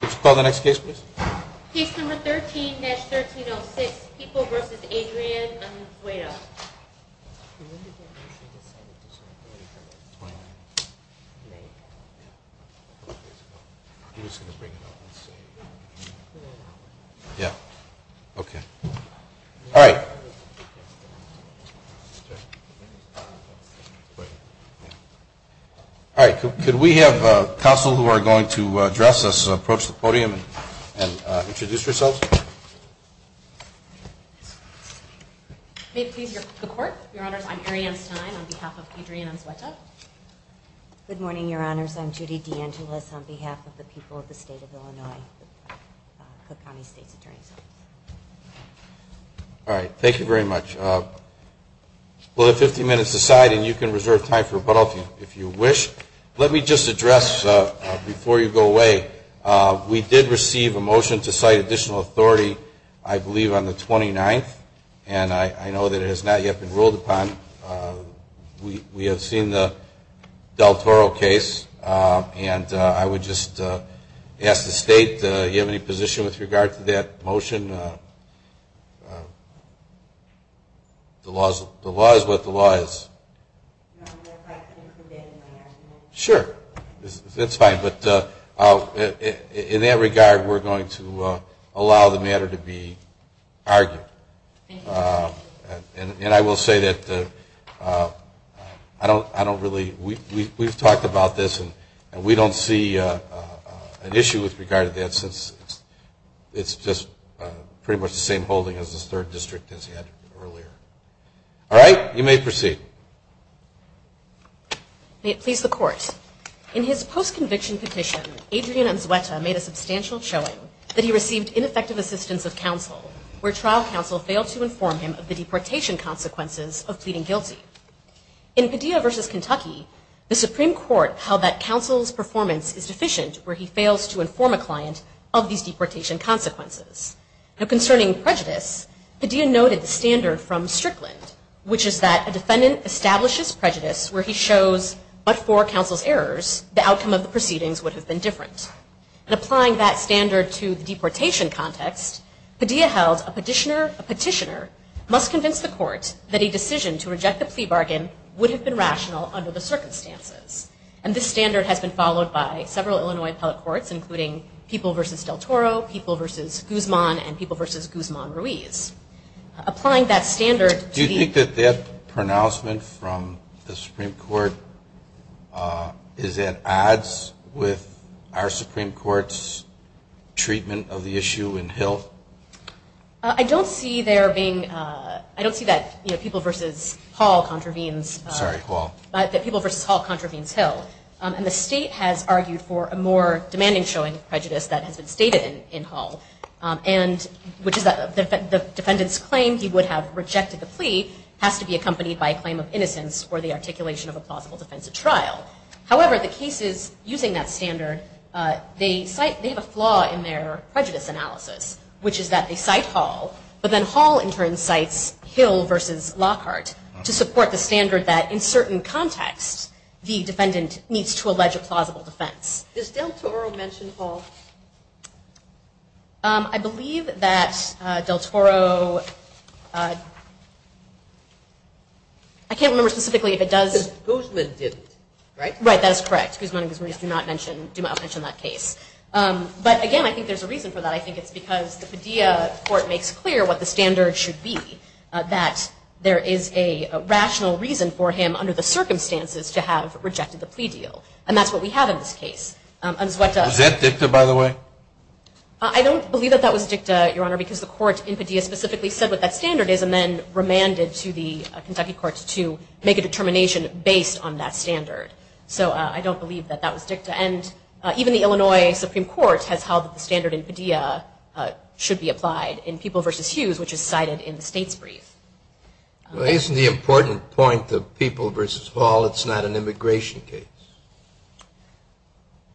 Please call the next case, please. Case number 13-1306, People v. Adrian Unzueta. Yeah, okay. All right. All right, could we have counsel who are going to address us, introduce yourselves. May it please the Court, Your Honors, I'm Arianne Stein on behalf of Adrian Unzueta. Good morning, Your Honors, I'm Judy DeAngelis on behalf of the people of the State of Illinois, Cook County State's Attorney General. All right. Thank you very much. We'll have 15 minutes to decide and you can reserve time for rebuttal if you wish. Let me just address, before you go away, we did receive a motion to cite additional authority, I believe on the 29th, and I know that it has not yet been ruled upon. We have seen the Del Toro case and I would just ask the State, do you have any position with regard to that motion? The law is what the law is. Sure. That's fine. But in that regard, we're going to allow the matter to be argued. And I will say that I as this third district as he had earlier. All right. You may proceed. May it please the Court. In his post-conviction petition, Adrian Unzueta made a substantial showing that he received ineffective assistance of counsel where trial counsel failed to inform him of the deportation consequences of pleading guilty. In Padilla v. Kentucky, the Supreme Court held that counsel's performance is deficient where he prejudice, Padilla noted the standard from Strickland, which is that a defendant establishes prejudice where he shows, but for counsel's errors, the outcome of the proceedings would have been different. And applying that standard to the deportation context, Padilla held a petitioner must convince the court that a decision to reject the plea bargain would have been rational under the circumstances. And this was in Padilla v. Guzman-Ruiz. Do you think that that pronouncement from the Supreme Court is at odds with our Supreme Court's treatment of the issue in Hill? I don't see that people v. Hall contravenes Hill. And the state has argued for a more demanding showing of prejudice that the defendant's claim he would have rejected the plea has to be accompanied by a claim of innocence for the articulation of a plausible defense at trial. However, the cases using that standard, they have a flaw in their prejudice analysis, which is that they cite Hall, but then Hall in turn cites Hill v. Lockhart to support the standard that in certain contexts the defendant needs to allege a plausible defense. Does Del Toro mention that? I believe that Del Toro, I can't remember specifically if it does. Guzman didn't, right? Right, that is correct. Guzman and Ruiz do not mention that case. But again, I think there's a reason for that. I think it's because the Padilla court makes clear what the standard should be, that there is a rational reason for him, under the circumstances, to have rejected the plea deal. And that's what we have in this case. Was that dicta, by the way? I don't believe that that was dicta, Your Honor, because the court in Padilla specifically said what that standard is and then remanded to the Kentucky courts to make a determination based on that standard. So I don't believe that that was dicta. And even the Illinois Supreme Court has held that the standard in Padilla should be applied in People v. Hughes, which is cited in the state's brief. Well, isn't the important point of People v. Hall, it's not an immigration case?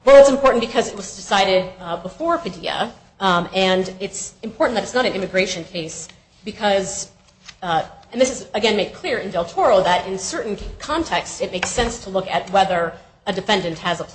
Well, it's important because it was decided before Padilla, and it's important that it's not an immigration case because, and this is again made clear in Del Toro, that in certain contexts it makes sense to look at whether a defendant has a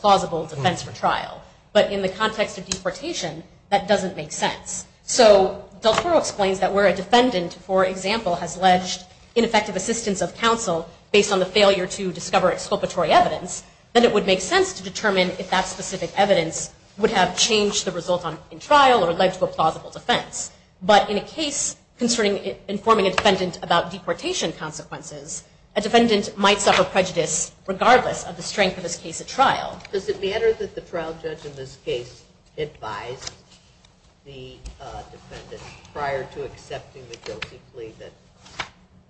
deportation that doesn't make sense. So Del Toro explains that where a defendant, for example, has alleged ineffective assistance of counsel based on the failure to discover exculpatory evidence, that it would make sense to determine if that specific evidence would have changed the result in trial or led to a plausible defense. But in a case concerning informing a defendant about deportation consequences, a defendant might suffer prejudice regardless of the strength of his case at trial. Does it matter that the trial judge in this case advised the defendant prior to accepting the guilty plea that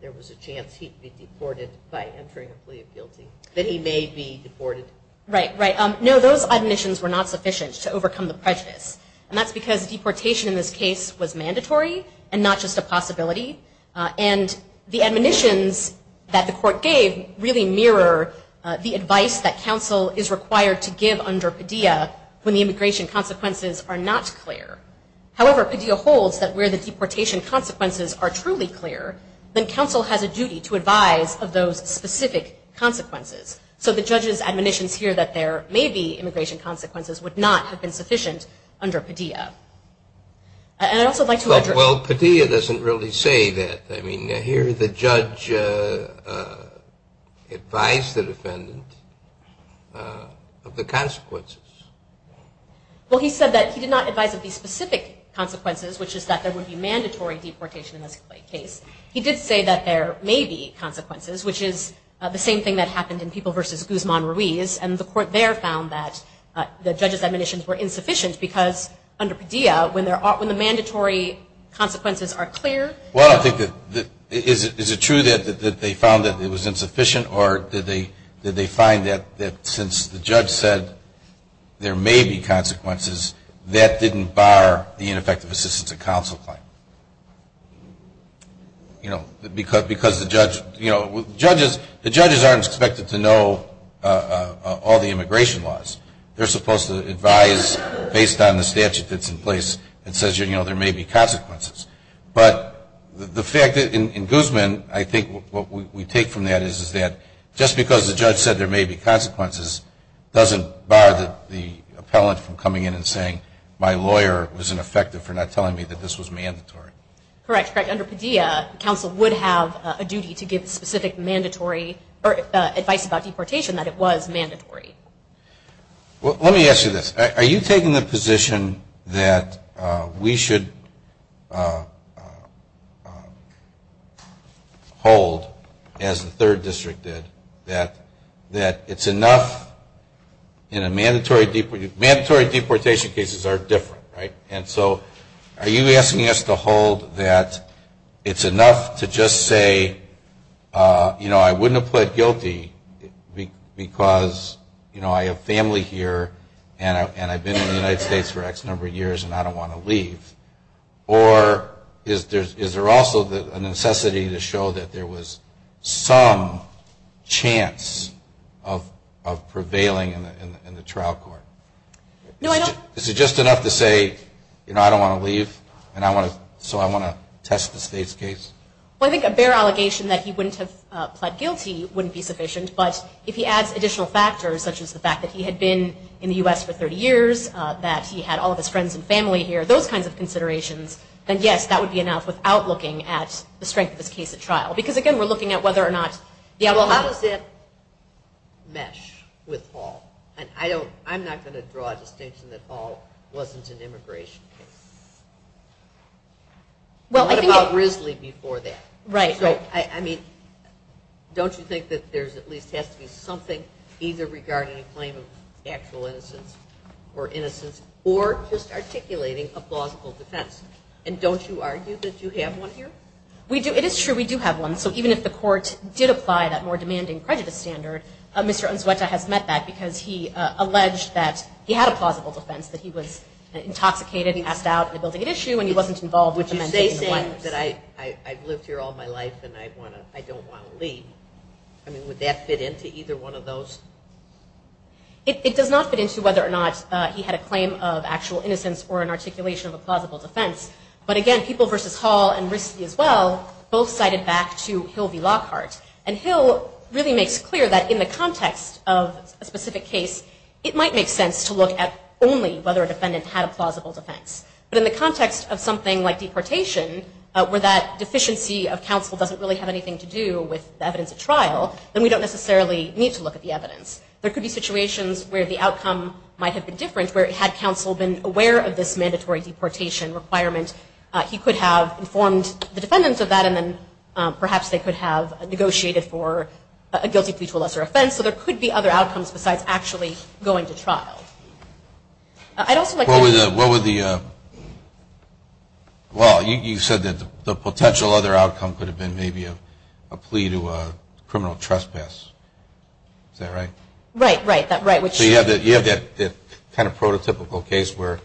there was a chance he'd be deported by entering a plea of guilty, that he may be deported? Right, right. No, those admonitions were not sufficient to overcome the prejudice. And that's because deportation in this case was mandatory and not just a possibility. And the admonitions that the court gave really mirror the advice that counsel is required to give under Padilla when the immigration consequences are not clear. However, Padilla holds that where the deportation consequences are truly clear, then counsel has a duty to advise of those specific consequences. So the judge's admonitions here that there may be immigration consequences would not have been sufficient under Padilla. Well, Padilla doesn't really say that. I mean, here the judge advised the defendant of the consequences. Well, he said that he did not advise of the specific consequences, which is that there would be mandatory deportation in this case. He did say that there may be consequences, which is the same thing that happened in People v. Guzman Ruiz. And the court there found that the judge's admonitions were insufficient because there may be consequences. Well, I think that the – is it true that they found that it was insufficient or did they find that since the judge said there may be consequences, that didn't bar the ineffective assistance of counsel claim? You know, because the judge – you know, judges – the judges aren't expected to know all the immigration laws. They're supposed to advise based on the statute of limitations, but they're not supposed to have a statute that's in place that says, you know, there may be consequences. But the fact that – in Guzman, I think what we take from that is that just because the judge said there may be consequences doesn't bar the appellant from coming in and saying my lawyer was ineffective for not telling me that this was mandatory. Correct. Correct. Under Padilla, counsel would have a duty to give specific mandatory – or advice about deportation that it was mandatory. Well, let me ask you this. Are you taking the position that we should hold, as the third district did, that it's enough in a mandatory – mandatory deportation cases are different, right? And so are you asking us to hold that it's enough to just say, you know, I wouldn't have pled guilty because I have family here and I've been in the United States for X number of years and I don't want to leave? Or is there also a necessity to show that there was some chance of prevailing in the trial court? No, I don't – Is it just enough to say, you know, I don't want to leave and I want to – so I want to test the state's case? Well, I think a bare allegation that he wouldn't have pled guilty wouldn't be sufficient, but if he adds additional factors, such as the fact that he had been in the U.S. for 30 years, that he had all of his friends and family here, those kinds of considerations, then yes, that would be enough without looking at the strength of his case at trial. Because again, we're looking at whether or not – Well, how does that mesh with Hall? And I don't – I'm not going to draw a distinction that Hall wasn't an immigration case. Well, I think – What about Risley before that? Right. So, I mean, don't you think that there at least has to be something either regarding a claim of actual innocence or innocence or just articulating a plausible defense? And don't you argue that you have one here? We do. It is true we do have one. So even if the court did apply that more demanding prejudice standard, Mr. Unzueta has met that because he wasn't involved with the men taking the weapons. Would you say that I've lived here all my life and I don't want to leave? I mean, would that fit into either one of those? It does not fit into whether or not he had a claim of actual innocence or an articulation of a plausible defense. But again, People v. Hall and Risley as well both cited back to Hill v. Lockhart. And Hill really makes clear that in the context of a specific case, it might make sense to look at only whether a defendant had a plausible defense. But in the context of something like deportation, where that deficiency of counsel doesn't really have anything to do with the evidence at trial, then we don't necessarily need to look at the evidence. There could be situations where the outcome might have been different, where had counsel been aware of this mandatory deportation requirement, he could have informed the defendants of that and then perhaps they could have negotiated for a guilty plea to a trial. I'd also like to know... Well, you said that the potential other outcome could have been maybe a plea to a criminal trespass. Is that right? Right, right. So you have that kind of prototypical case where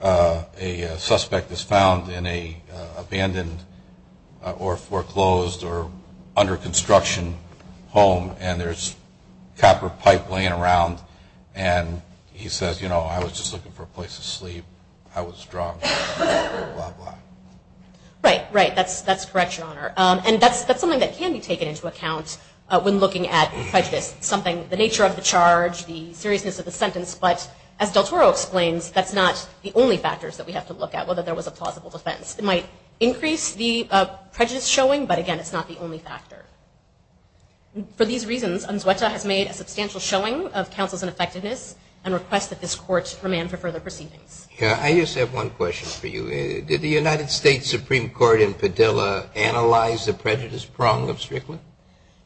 a suspect is found in an abandoned or foreclosed or under construction home and there's a defendant and he says, you know, I was just looking for a place to sleep, I was drunk, blah, blah. Right, right. That's correct, Your Honor. And that's something that can be taken into account when looking at prejudice. Something, the nature of the charge, the seriousness of the sentence, but as Del Toro explains, that's not the only factors that we have to look at, whether there was a plausible defense. It might increase the prejudice showing, but again, it's not the only factor. For these reasons, UNSWETA has made a substantial showing of counsel's ineffectiveness and requests that this court remand for further proceedings. I just have one question for you. Did the United States Supreme Court in Padilla analyze the prejudice prong of Strickland?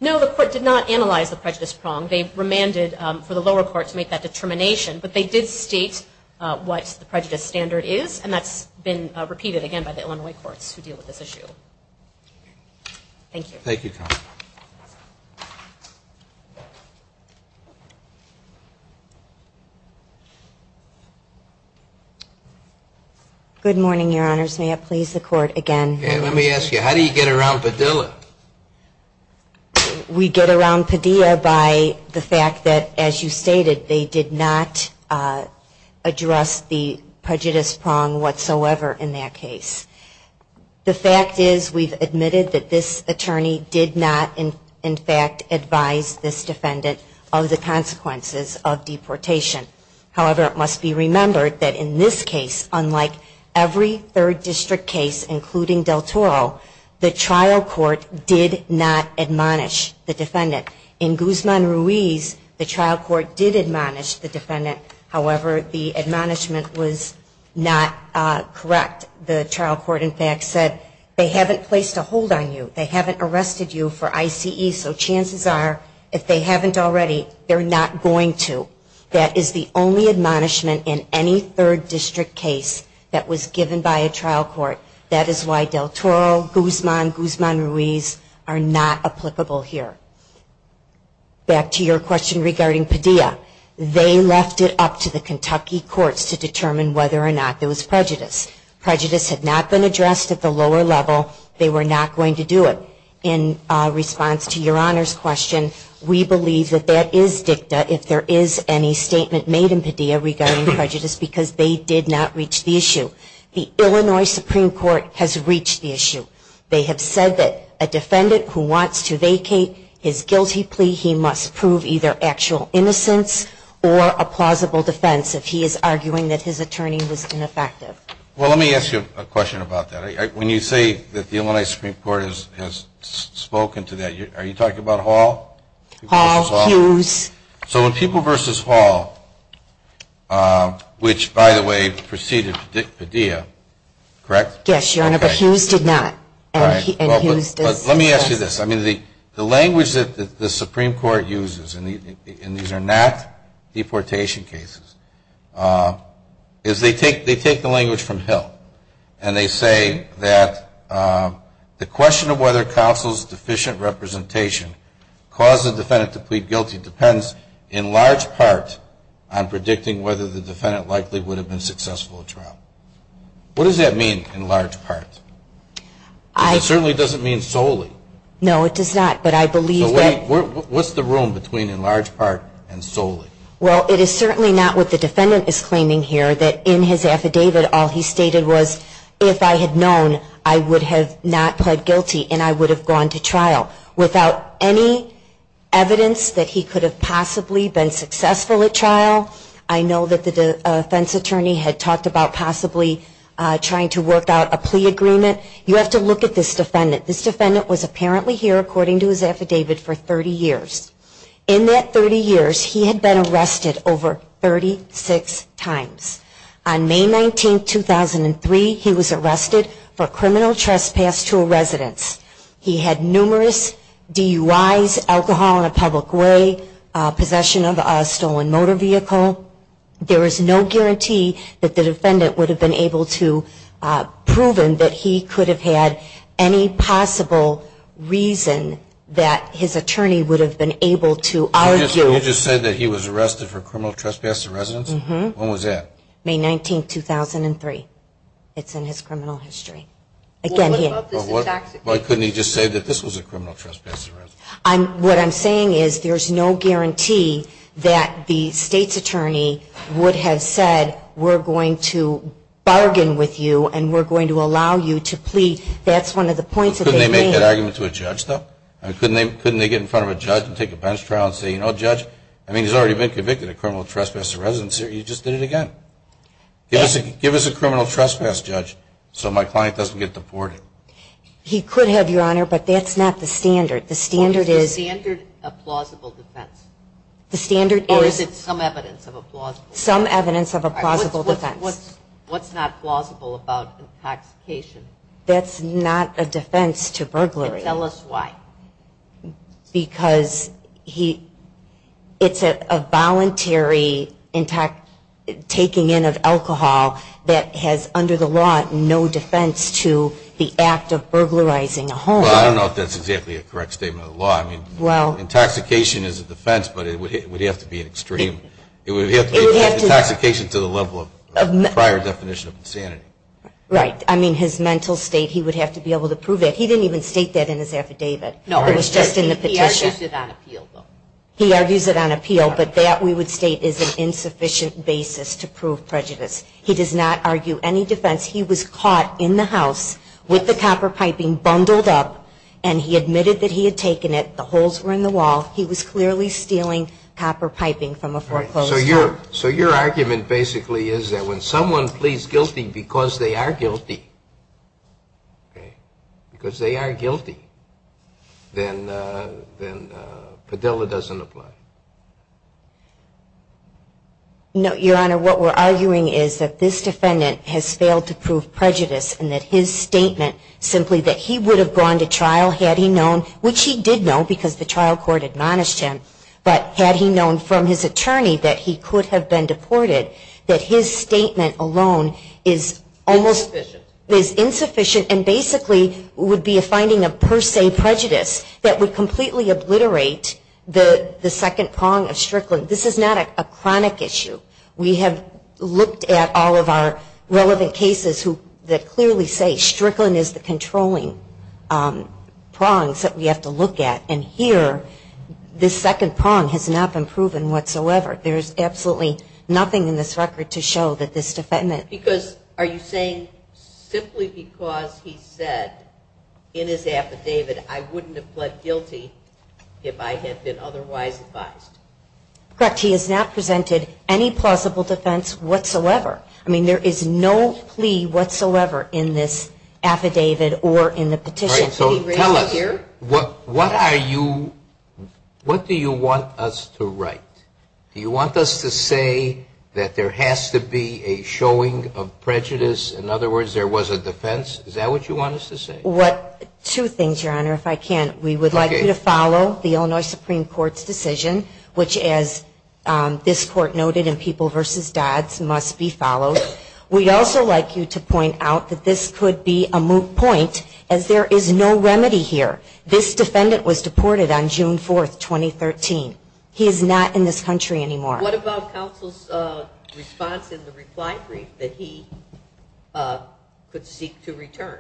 No, the court did not analyze the prejudice prong. They remanded for the lower court to make that determination, but they did state what the prejudice standard is and that's been repeated again by the Illinois courts who deal with this issue. Thank you. Thank you, Connie. Good morning, Your Honors. May it please the Court again. Let me ask you, how do you get around Padilla? We get around Padilla by the fact that, as you stated, they did not address the prejudice prong whatsoever in that case. The fact is, we've admitted that this attorney did not, in fact, advise this defendant of the consequences of deportation. However, it must be remembered that in this case, unlike every third district case, including Del Toro, the trial court did not admonish the defendant. In Guzman-Ruiz, the trial court did admonish the defendant. However, the admonishment was not correct. The trial court did not admonish the defendant. The trial court, in fact, said they haven't placed a hold on you. They haven't arrested you for ICE, so chances are if they haven't already, they're not going to. That is the only admonishment in any third district case that was given by a trial court. That is why Del Toro, Guzman, Guzman-Ruiz are not applicable here. Back to your question regarding Padilla. They left it up to the Kentucky courts to determine whether or not there was prejudice. Prejudice had not been addressed at the lower level. They were not going to do it. In response to your Honor's question, we believe that that is dicta if there is any statement made in Padilla regarding prejudice because they did not reach the issue. The Illinois Supreme Court has reached the issue. They have said that a defendant who wants to vacate his guilty plea, he must prove either actual innocence or a plausible defense if he is arguing that his attorney was ineffective. Let me ask you a question about that. When you say that the Illinois Supreme Court has spoken to that, are you talking about Hall? Hall, Hughes. So in People v. Hall, which, by the way, preceded Padilla, correct? Yes, Your Honor, but Hughes did not. Let me ask you this. The language that the Supreme Court uses, and these are not deportation cases, is they take people who have been deported, and they take the language from Hill, and they say that the question of whether counsel's deficient representation caused the defendant to plead guilty depends in large part on predicting whether the defendant likely would have been successful in trial. What does that mean in large part? It certainly doesn't mean solely. No, it does not, but I believe that... What's the room between in large part and solely? Well, it is certainly not what the defendant is claiming here, that in his affidavit all he stated was, if I had known, I would have not pled guilty, and I would have gone to trial. Without any evidence that he could have possibly been successful at trial, I know that the defense attorney had talked about possibly trying to work out a plea agreement. You have to look at this defendant. This defendant was apparently here, according to his affidavit, for 30 years. He had been arrested over 36 times. On May 19, 2003, he was arrested for criminal trespass to a residence. He had numerous DUIs, alcohol in a public way, possession of a stolen motor vehicle. There is no guarantee that the defendant would have been able to prove him that he could have had any possible reason that his attorney would have been able to argue... Well, couldn't he just say that he was arrested for criminal trespass to a residence? When was that? May 19, 2003. It's in his criminal history. Why couldn't he just say that this was a criminal trespass to a residence? What I'm saying is there's no guarantee that the state's attorney would have said, we're going to bargain with you, and we're going to allow you to plea. That's one of the points that they made. I mean, couldn't they get in front of a judge and take a bench trial and say, you know, Judge, I mean, he's already been convicted of criminal trespass to a residence here. You just did it again. Give us a criminal trespass, Judge, so my client doesn't get deported. He could have, Your Honor, but that's not the standard. Well, is the standard a plausible defense? Or is it some evidence of a plausible defense? Some evidence of a plausible defense. What's not plausible about intoxication? That's not a defense to burglary. And tell us why. Because it's a voluntary taking in of alcohol that has, under the law, no defense to the act of burglarizing a home. Well, I don't know if that's exactly a correct statement of the law. Intoxication is a defense, but it would have to be an extreme. It would have to be intoxication to the level of prior definition of insanity. Right. I mean, his mental state, he would have to be able to prove it. He didn't even state that in his affidavit. It was just in the petition. He argues it on appeal, but that, we would state, is an insufficient basis to prove prejudice. He does not argue any defense. He was caught in the house with the copper piping bundled up, and he admitted that he had taken it. The holes were in the wall. He was clearly stealing copper piping from a foreclosure. So your argument, basically, is that when someone pleads guilty because they are guilty, because they are guilty, then Padilla doesn't apply. No, Your Honor. What we're arguing is that this defendant has failed to prove prejudice, and that his statement simply that he would have gone to trial had he known, which he did know because the trial court admonished him, but had he known from his attorney that he could have been deported, that his statement alone is almost insufficient and basically would be a finding of per se prejudice that would completely obliterate the second prong of Strickland. This is not a chronic issue. We have looked at all of our relevant cases that clearly say that there are two prongs that we have to look at, and here this second prong has not been proven whatsoever. There is absolutely nothing in this record to show that this defendant Because are you saying simply because he said in his affidavit I wouldn't have pled guilty if I had been otherwise advised? Correct. He has not presented any plausible defense whatsoever. I mean, there is no plea whatsoever in this affidavit or in the petition. What do you want us to write? Do you want us to say that there has to be a showing of prejudice? In other words, there was a defense? Is that what you want us to say? Two things, Your Honor, if I can. We would like you to follow the Illinois Supreme Court's decision, which as this Court noted in People v. Dodds must be followed. We'd also like you to point out that this could be a moot point as there is no remedy here. This defendant was deported on June 4, 2013. He is not in this country anymore. What about counsel's response in the reply brief that he could seek to return?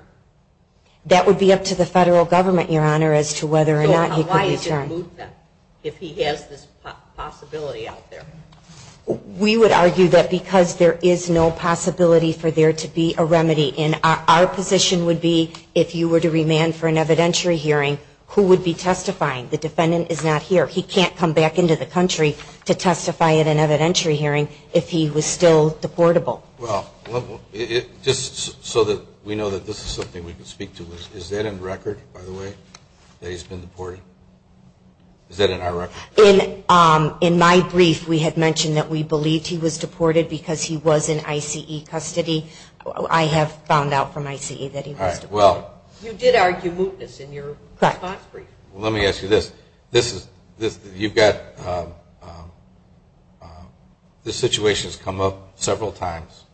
That would be up to the federal government, Your Honor, as to whether or not he could return. Why is it a moot point if he has this possibility out there? We would argue that because there is no possibility for there to be a remedy. Our position would be if you were to remand for an evidentiary hearing, who would be testifying? The defendant is not here. He can't come back into the country to testify at an evidentiary hearing if he was still deportable. Just so that we know that this is something we can speak to, is that in record, by the way, that he's been deported? Is that in our record? In my brief, we had mentioned that we believed he was deported because he was in ICE custody. I have found out from ICE that he was deported. You did argue mootness in your response brief. This situation has come up several times.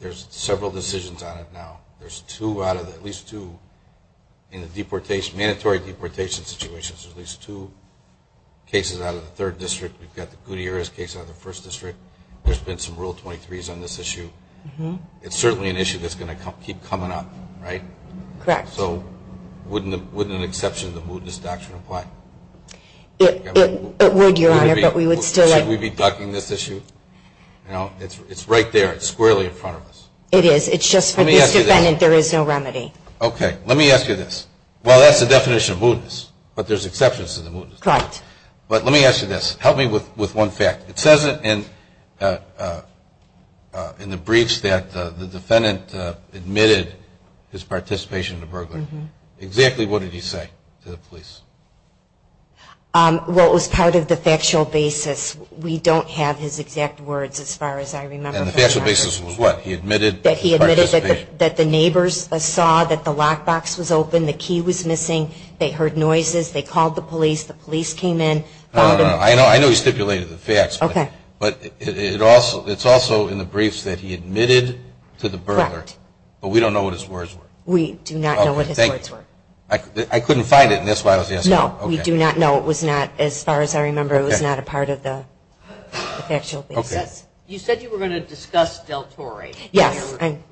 There are several decisions on it now. There are at least two mandatory deportation situations. There are at least two cases out of the third district. We've got the Gutierrez case out of the first district. There's been some Rule 23s on this issue. It's certainly an issue that's going to keep coming up, right? Correct. So wouldn't an exception to the mootness doctrine apply? It would, Your Honor, but we would still like... Should we be ducking this issue? It's right there. It's squarely in front of us. It is. It's just for this defendant there is no remedy. Okay. Let me ask you this. Well, that's the definition of mootness, but there's exceptions to the mootness doctrine. Correct. But let me ask you this. Help me with one fact. It says in the briefs that the defendant admitted his participation in the burglary. Exactly what did he say to the police? Well, it was part of the factual basis. We don't have his exact words as far as I remember. And the factual basis was what? He admitted... That he admitted that the neighbors saw that the lockbox was open, the key was missing, they heard noises, they called the police, the police came in... I know he stipulated the facts, but it's also in the briefs that he admitted to the burglary. But we don't know what his words were. We do not know what his words were. I couldn't find it and that's why I was asking. No, we do not know. It was not, as far as I remember, it was not a part of the factual basis. Okay. You said you were going to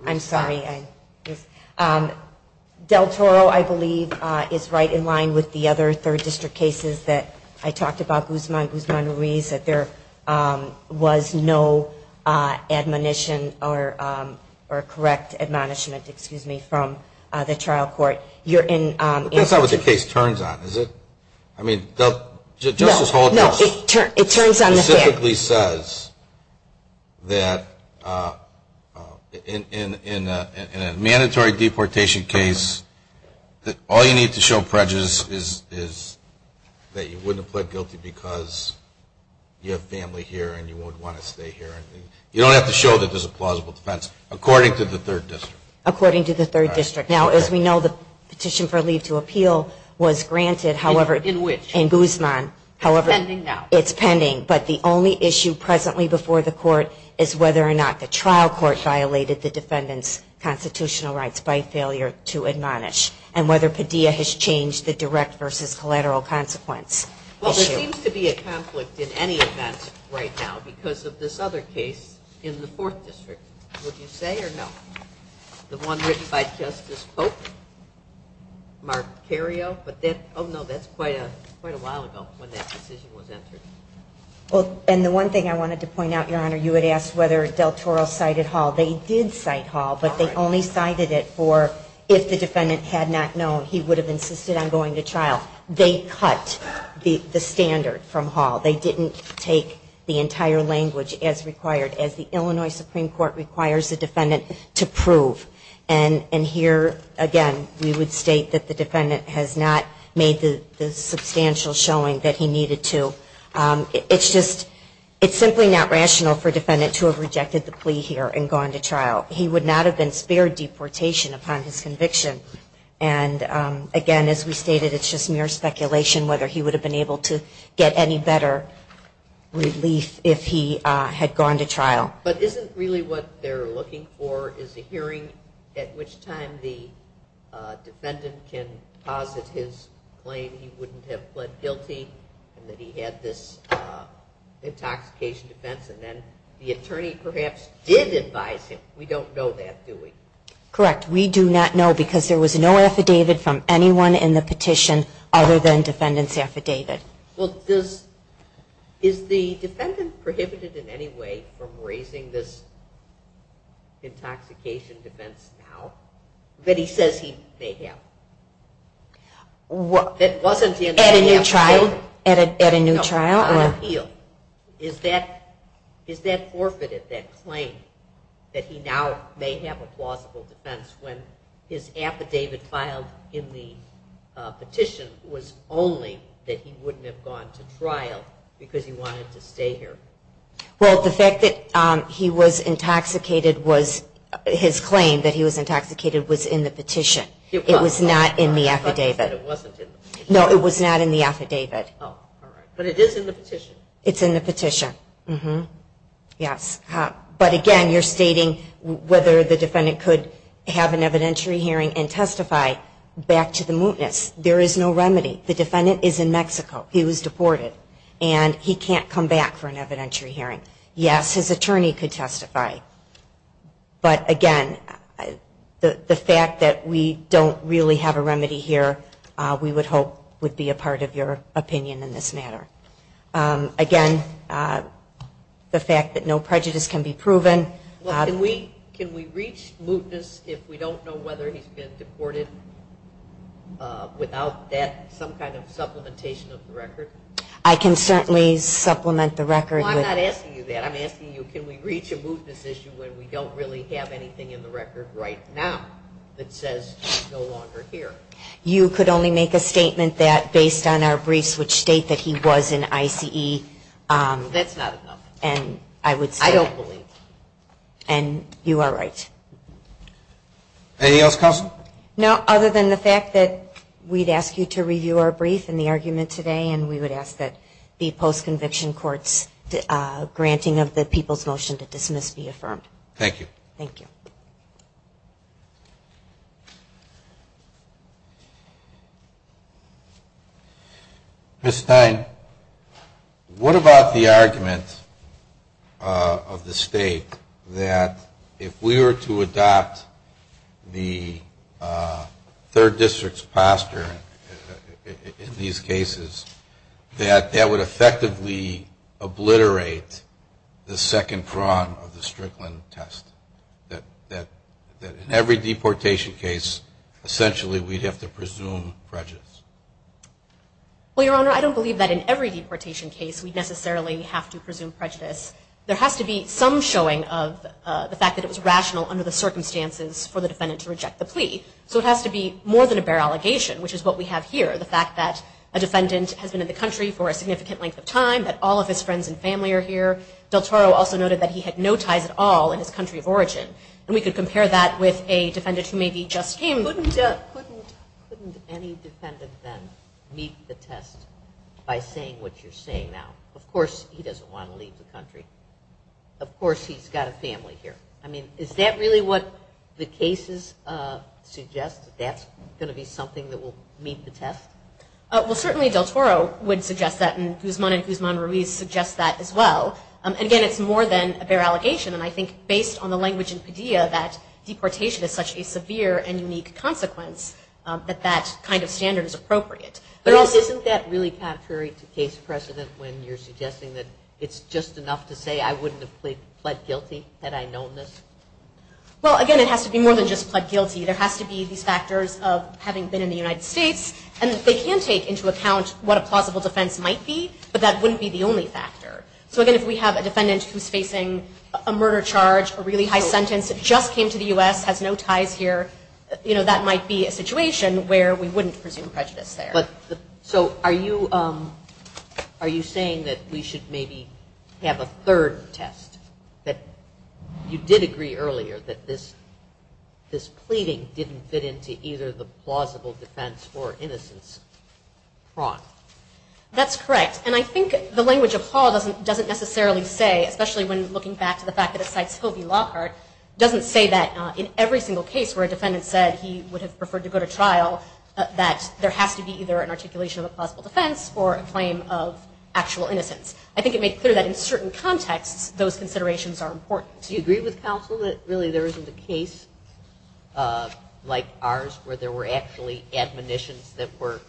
I'm sorry. Del Toro, I believe, is right in line with the other third district cases that I talked about, Guzman-Ruiz, that there was no admonition or correct admonishment from the trial court. That's not what the case turns on, is it? I mean, Justice Hall just specifically says that in a mandatory deportation case that all you need to show prejudice is that you wouldn't have pled guilty because you have family here and you wouldn't want to stay here. You don't have to show that there's a plausible defense, according to the third district. According to the third district. Now, as we know, the petition for leave to appeal was granted, however... In which? In Guzman. It's pending now. It's pending, but the only issue presently before the trial court violated the defendant's constitutional rights by failure to admonish, and whether Padilla has changed the direct versus collateral consequence issue. Well, there seems to be a conflict in any event right now because of this other case in the fourth district. Would you say or no? The one written by Justice Pope? Mark Cario? Oh, no, that's quite a while ago when that decision was entered. Well, and the one thing I wanted to point out, Your Honor, you had asked whether Del Toro cited Hall. They did cite Hall, but they only cited it for if the defendant had not known, he would have insisted on going to trial. They cut the standard from Hall. They didn't take the entire language as required, as the Illinois Supreme Court requires the defendant to prove. And here, again, we would state that the defendant has not made the substantial showing that he needed to. It's just it's simply not rational for a defendant to have rejected the plea here and gone to trial. He would not have been spared deportation upon his conviction. And, again, as we stated, it's just mere speculation whether he would have been able to get any better relief if he had gone to trial. But isn't really what they're looking for is a hearing at which time the defendant can posit his claim he wouldn't have pled guilty and that he had this intoxication defense and then the attorney perhaps did advise him. We don't know that, do we? Correct. We do not know because there was no affidavit from anyone in the petition other than defendant's affidavit. Is the defendant prohibited in any way from raising this intoxication defense now that he says he may have? At a new trial? No, on appeal. Is that forfeited, that claim that he now may have a plausible defense when his affidavit filed in the petition was only that he wouldn't have gone to trial because he wanted to stay here? Well, the fact that he was intoxicated was, his claim that he was intoxicated was in the petition. It was not in the affidavit. No, it was not in the affidavit. It's in the petition. But again, you're stating whether the defendant could have an evidentiary hearing and testify back to the mootness. There is no remedy. The defendant is in Mexico. He was deported and he can't come back for an evidentiary hearing. Yes, his attorney could testify. But again, the fact that we don't really have a remedy here we would hope would be a part of your opinion in this matter. Again, the fact that no prejudice can be proven. Can we reach mootness if we don't know whether he's been deported without that, some kind of supplementation of the record? I can certainly supplement the record. Well, I'm not asking you that. I'm asking you can we reach a mootness issue when we don't really have anything in the record right now that says he's no longer here. You could only make a statement that based on our briefs which state that he was in I.C.E. That's not enough. I don't believe you. And you are right. Anything else, Counsel? No, other than the fact that we'd ask you to review our brief and the argument today and we would ask that the post-conviction courts granting of the people's motion to dismiss be affirmed. Thank you. Ms. Stein, what about the argument of the state that if we were to adopt the third district's posture in these cases that that would effectively obliterate the second prong of the Strickland test? That in every deportation case, essentially we'd have to presume prejudice? Well, Your Honor, I don't believe that in every deportation case we'd necessarily have to presume prejudice. There has to be some showing of the fact that it was rational under the circumstances for the defendant to reject the plea. So it has to be more than a bare allegation, which is what we have here. The fact that a defendant has been in the country for a significant length of time, that all of his friends and family are here. Del Toro also noted that he had no ties at all in his country of origin. And we could compare that with a defendant who maybe just came. Couldn't any defendant then meet the test by saying what you're saying now? Of course he doesn't want to leave the country. Of course he's got a family here. I mean, is that really what the cases suggest? That that's going to be something that will meet the test? Well, certainly Del Toro would suggest that and Guzman and Guzman-Ruiz suggest that as well. Again, it's more than a bare allegation and I think based on the language in Padilla that deportation is such a severe and unique consequence that that kind of standard is appropriate. But isn't that really contrary to case precedent when you're suggesting that it's just enough to say I wouldn't have pled guilty had I known this? Well, again, it has to be more than just pled guilty. There has to be these factors of having been in the United States and they can take into account what a plausible defense might be, but that wouldn't be the only factor. So again, if we have a defendant who's facing a murder charge, a really high sentence, just came to the U.S., has no ties here, that might be a situation where we wouldn't presume prejudice there. Are you saying that we should maybe have a third test? That you did agree earlier that this pleading didn't fit into either the plausible defense or innocence prong? That's correct. And I think the language of Hall doesn't necessarily say, especially when looking back to the fact that it cites Hovey Lockhart, doesn't say that in every single case where a defendant said he would have preferred to go to trial, that there has to be either an articulation of a plausible defense or a claim of actual innocence. I think it made clear that in certain contexts, those considerations are important. Do you agree with counsel that really there isn't a case like ours where there were actually admonitions that were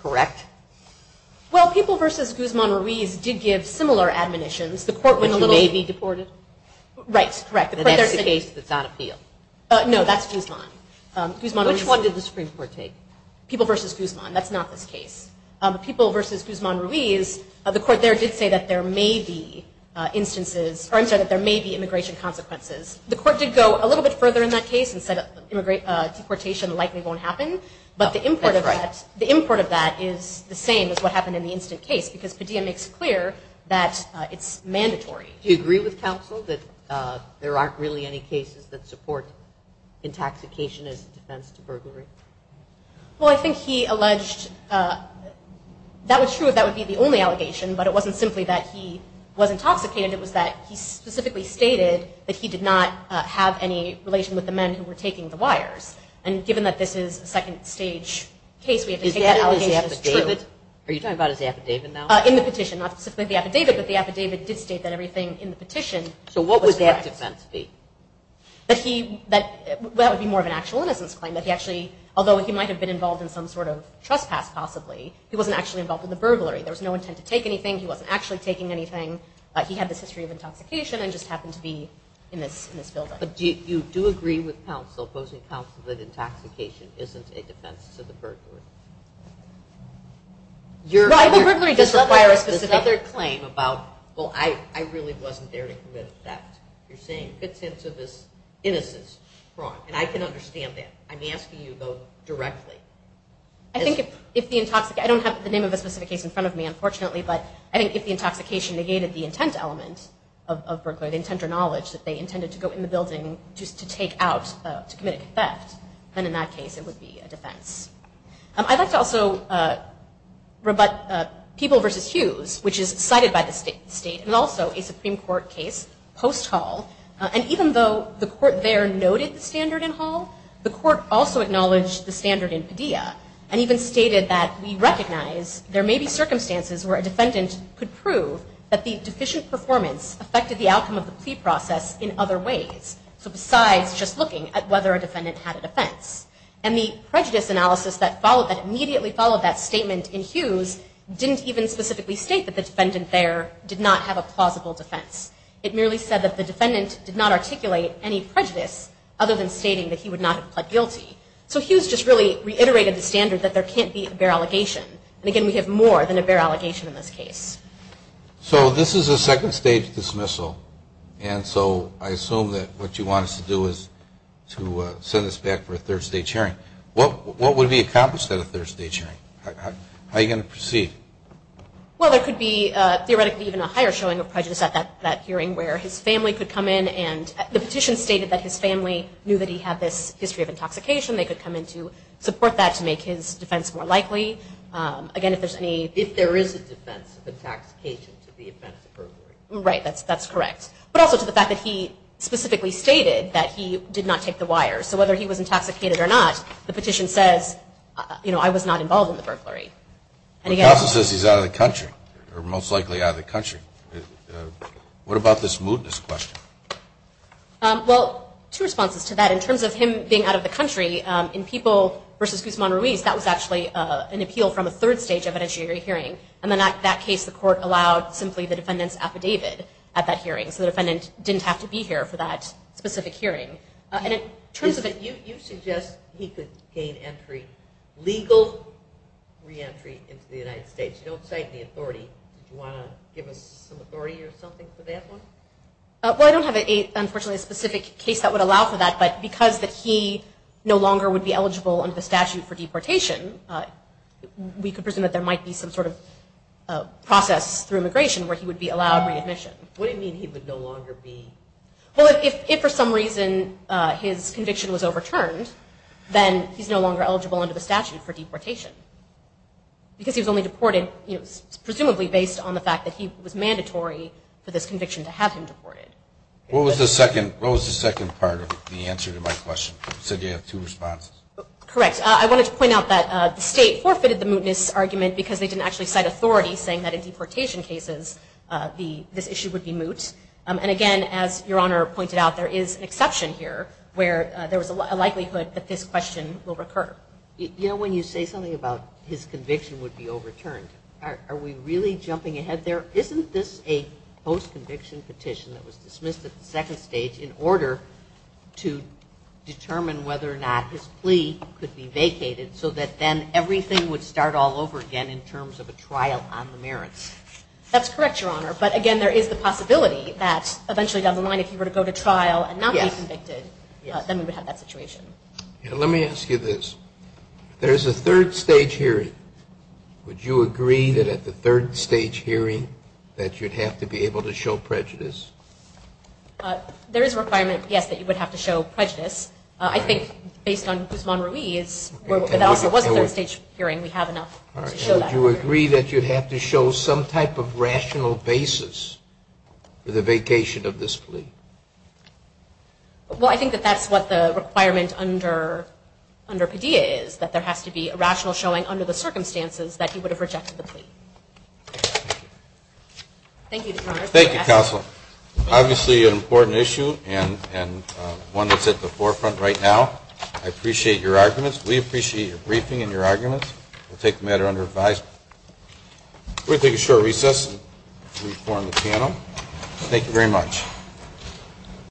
correct? Well, People v. Guzman-Ruiz did give similar admonitions. Which may be deported? Right, correct. And that's the case that's on appeal? No, that's Guzman. Which one did the Supreme Court take? People v. Guzman. That's not this case. People v. Guzman-Ruiz, the court there did say that there may be immigration consequences. The court did go a little bit further in that case and said deportation likely won't happen, but the import of that is the same as what happened in the instant case, because Padilla makes clear that it's mandatory. Do you agree with counsel that there aren't really any cases that support intoxication as a defense to burglary? Well, I think he alleged that was true if that would be the only allegation, but it wasn't simply that he was stated that he did not have any relation with the men who were taking the wires. And given that this is a second stage case, we have to take that allegation as true. Is that in his affidavit? Are you talking about his affidavit now? In the petition, not specifically the affidavit, but the affidavit did state that everything in the petition was correct. So what would that defense be? That would be more of an actual innocence claim. Although he might have been involved in some sort of trespass possibly, he wasn't actually involved in the burglary. There was no intent to take anything. He wasn't actually taking anything. He had this history of intoxication and just happened to be in this building. But you do agree with counsel, opposing counsel, that intoxication isn't a defense to the burglary? Well, I think burglary does require a specific... There's another claim about, well, I really wasn't there to commit a theft. You're saying it fits into this innocence prong, and I can understand that. I'm asking you, though, directly. I think if the intoxication... I don't have the name of a specific case in front of me, unfortunately, but I think if the intoxication negated the intent element of burglary, the intent or knowledge that they intended to go in the building just to take out, to commit a theft, then in that case it would be a defense. I'd like to also rebut People v. Hughes, which is cited by the state, and also a Supreme Court case post-Hall. And even though the court there noted the standard in Hall, the court also acknowledged the standard in Padilla, and even stated that we recognize there may be circumstances where a defendant could prove that the deficient performance affected the outcome of the plea process in other ways. So besides just looking at whether a defendant had a defense. And the prejudice analysis that immediately followed that statement in Hughes didn't even specifically state that the defendant there did not have a plausible defense. It merely said that the defendant did not articulate any prejudice other than stating that he would not have pled guilty. So Hughes just really reiterated the standard that there can't be a bare allegation. And again, we have more than a bare allegation in this case. So this is a second stage dismissal, and so I assume that what you want us to do is to send us back for a third stage hearing. What would be accomplished at a third stage hearing? How are you going to proceed? Well, there could be theoretically even a higher showing of prejudice at that hearing where his family could come in and the petition stated that his family knew that he had this history of intoxication. They could come in to support that to make his defense more likely. Again, if there's any... If there is a defense of intoxication to the offense of burglary. Right, that's correct. But also to the fact that he specifically stated that he did not take the wire. So whether he was intoxicated or not, the petition says I was not involved in the burglary. The counsel says he's out of the country, or most likely out of the country. What about this mootness question? Well, two responses to that. In People v. Guzman-Ruiz, that was actually an appeal from a third stage hearing. In that case, the court allowed simply the defendant's affidavit at that hearing. So the defendant didn't have to be here for that specific hearing. You suggest he could gain entry legal re-entry into the United States. You don't cite the authority. Do you want to give us some authority or something for that one? Well, I don't have, unfortunately, a specific case that would allow for that, but because that he no longer would be eligible under the statute for deportation, we could presume that there might be some sort of process through immigration where he would be allowed readmission. What do you mean he would no longer be? Well, if for some reason his conviction was overturned, then he's no longer eligible under the statute for deportation. Because he was only deported, presumably based on the fact that he was mandatory for this conviction to have him deported. What was the second part of the answer to my question? You said you have two responses. Correct. I wanted to point out that the state forfeited the mootness argument because they didn't actually cite authority saying that in deportation cases this issue would be moot. And again, as Your Honor pointed out, there is an exception here where there was a likelihood that this question will recur. You know, when you say something about his conviction would be overturned, are we really jumping ahead there? Isn't this a post-conviction petition that was submitted to determine whether or not his plea could be vacated so that then everything would start all over again in terms of a trial on the merits? That's correct, Your Honor. But again, there is the possibility that eventually down the line if he were to go to trial and not be convicted, then we would have that situation. Let me ask you this. There's a third stage hearing. Would you agree that at the third stage hearing that you'd have to be able to show prejudice? There is a requirement, yes, that you would have to show prejudice. I think based on Guzman-Ruiz, that also was a third stage hearing. We have enough to show that. Would you agree that you'd have to show some type of rational basis for the vacation of this plea? Well, I think that that's what the requirement under Padilla is, that there has to be a rational showing under the circumstances that he would have rejected the plea. Thank you, Your Honor. Thank you, Counsel. Obviously an important issue and one that's at the forefront right now. I appreciate your arguments. We appreciate your briefing and your arguments. We'll take the matter under advisement. We'll take a short recess and re-form the panel. Thank you very much.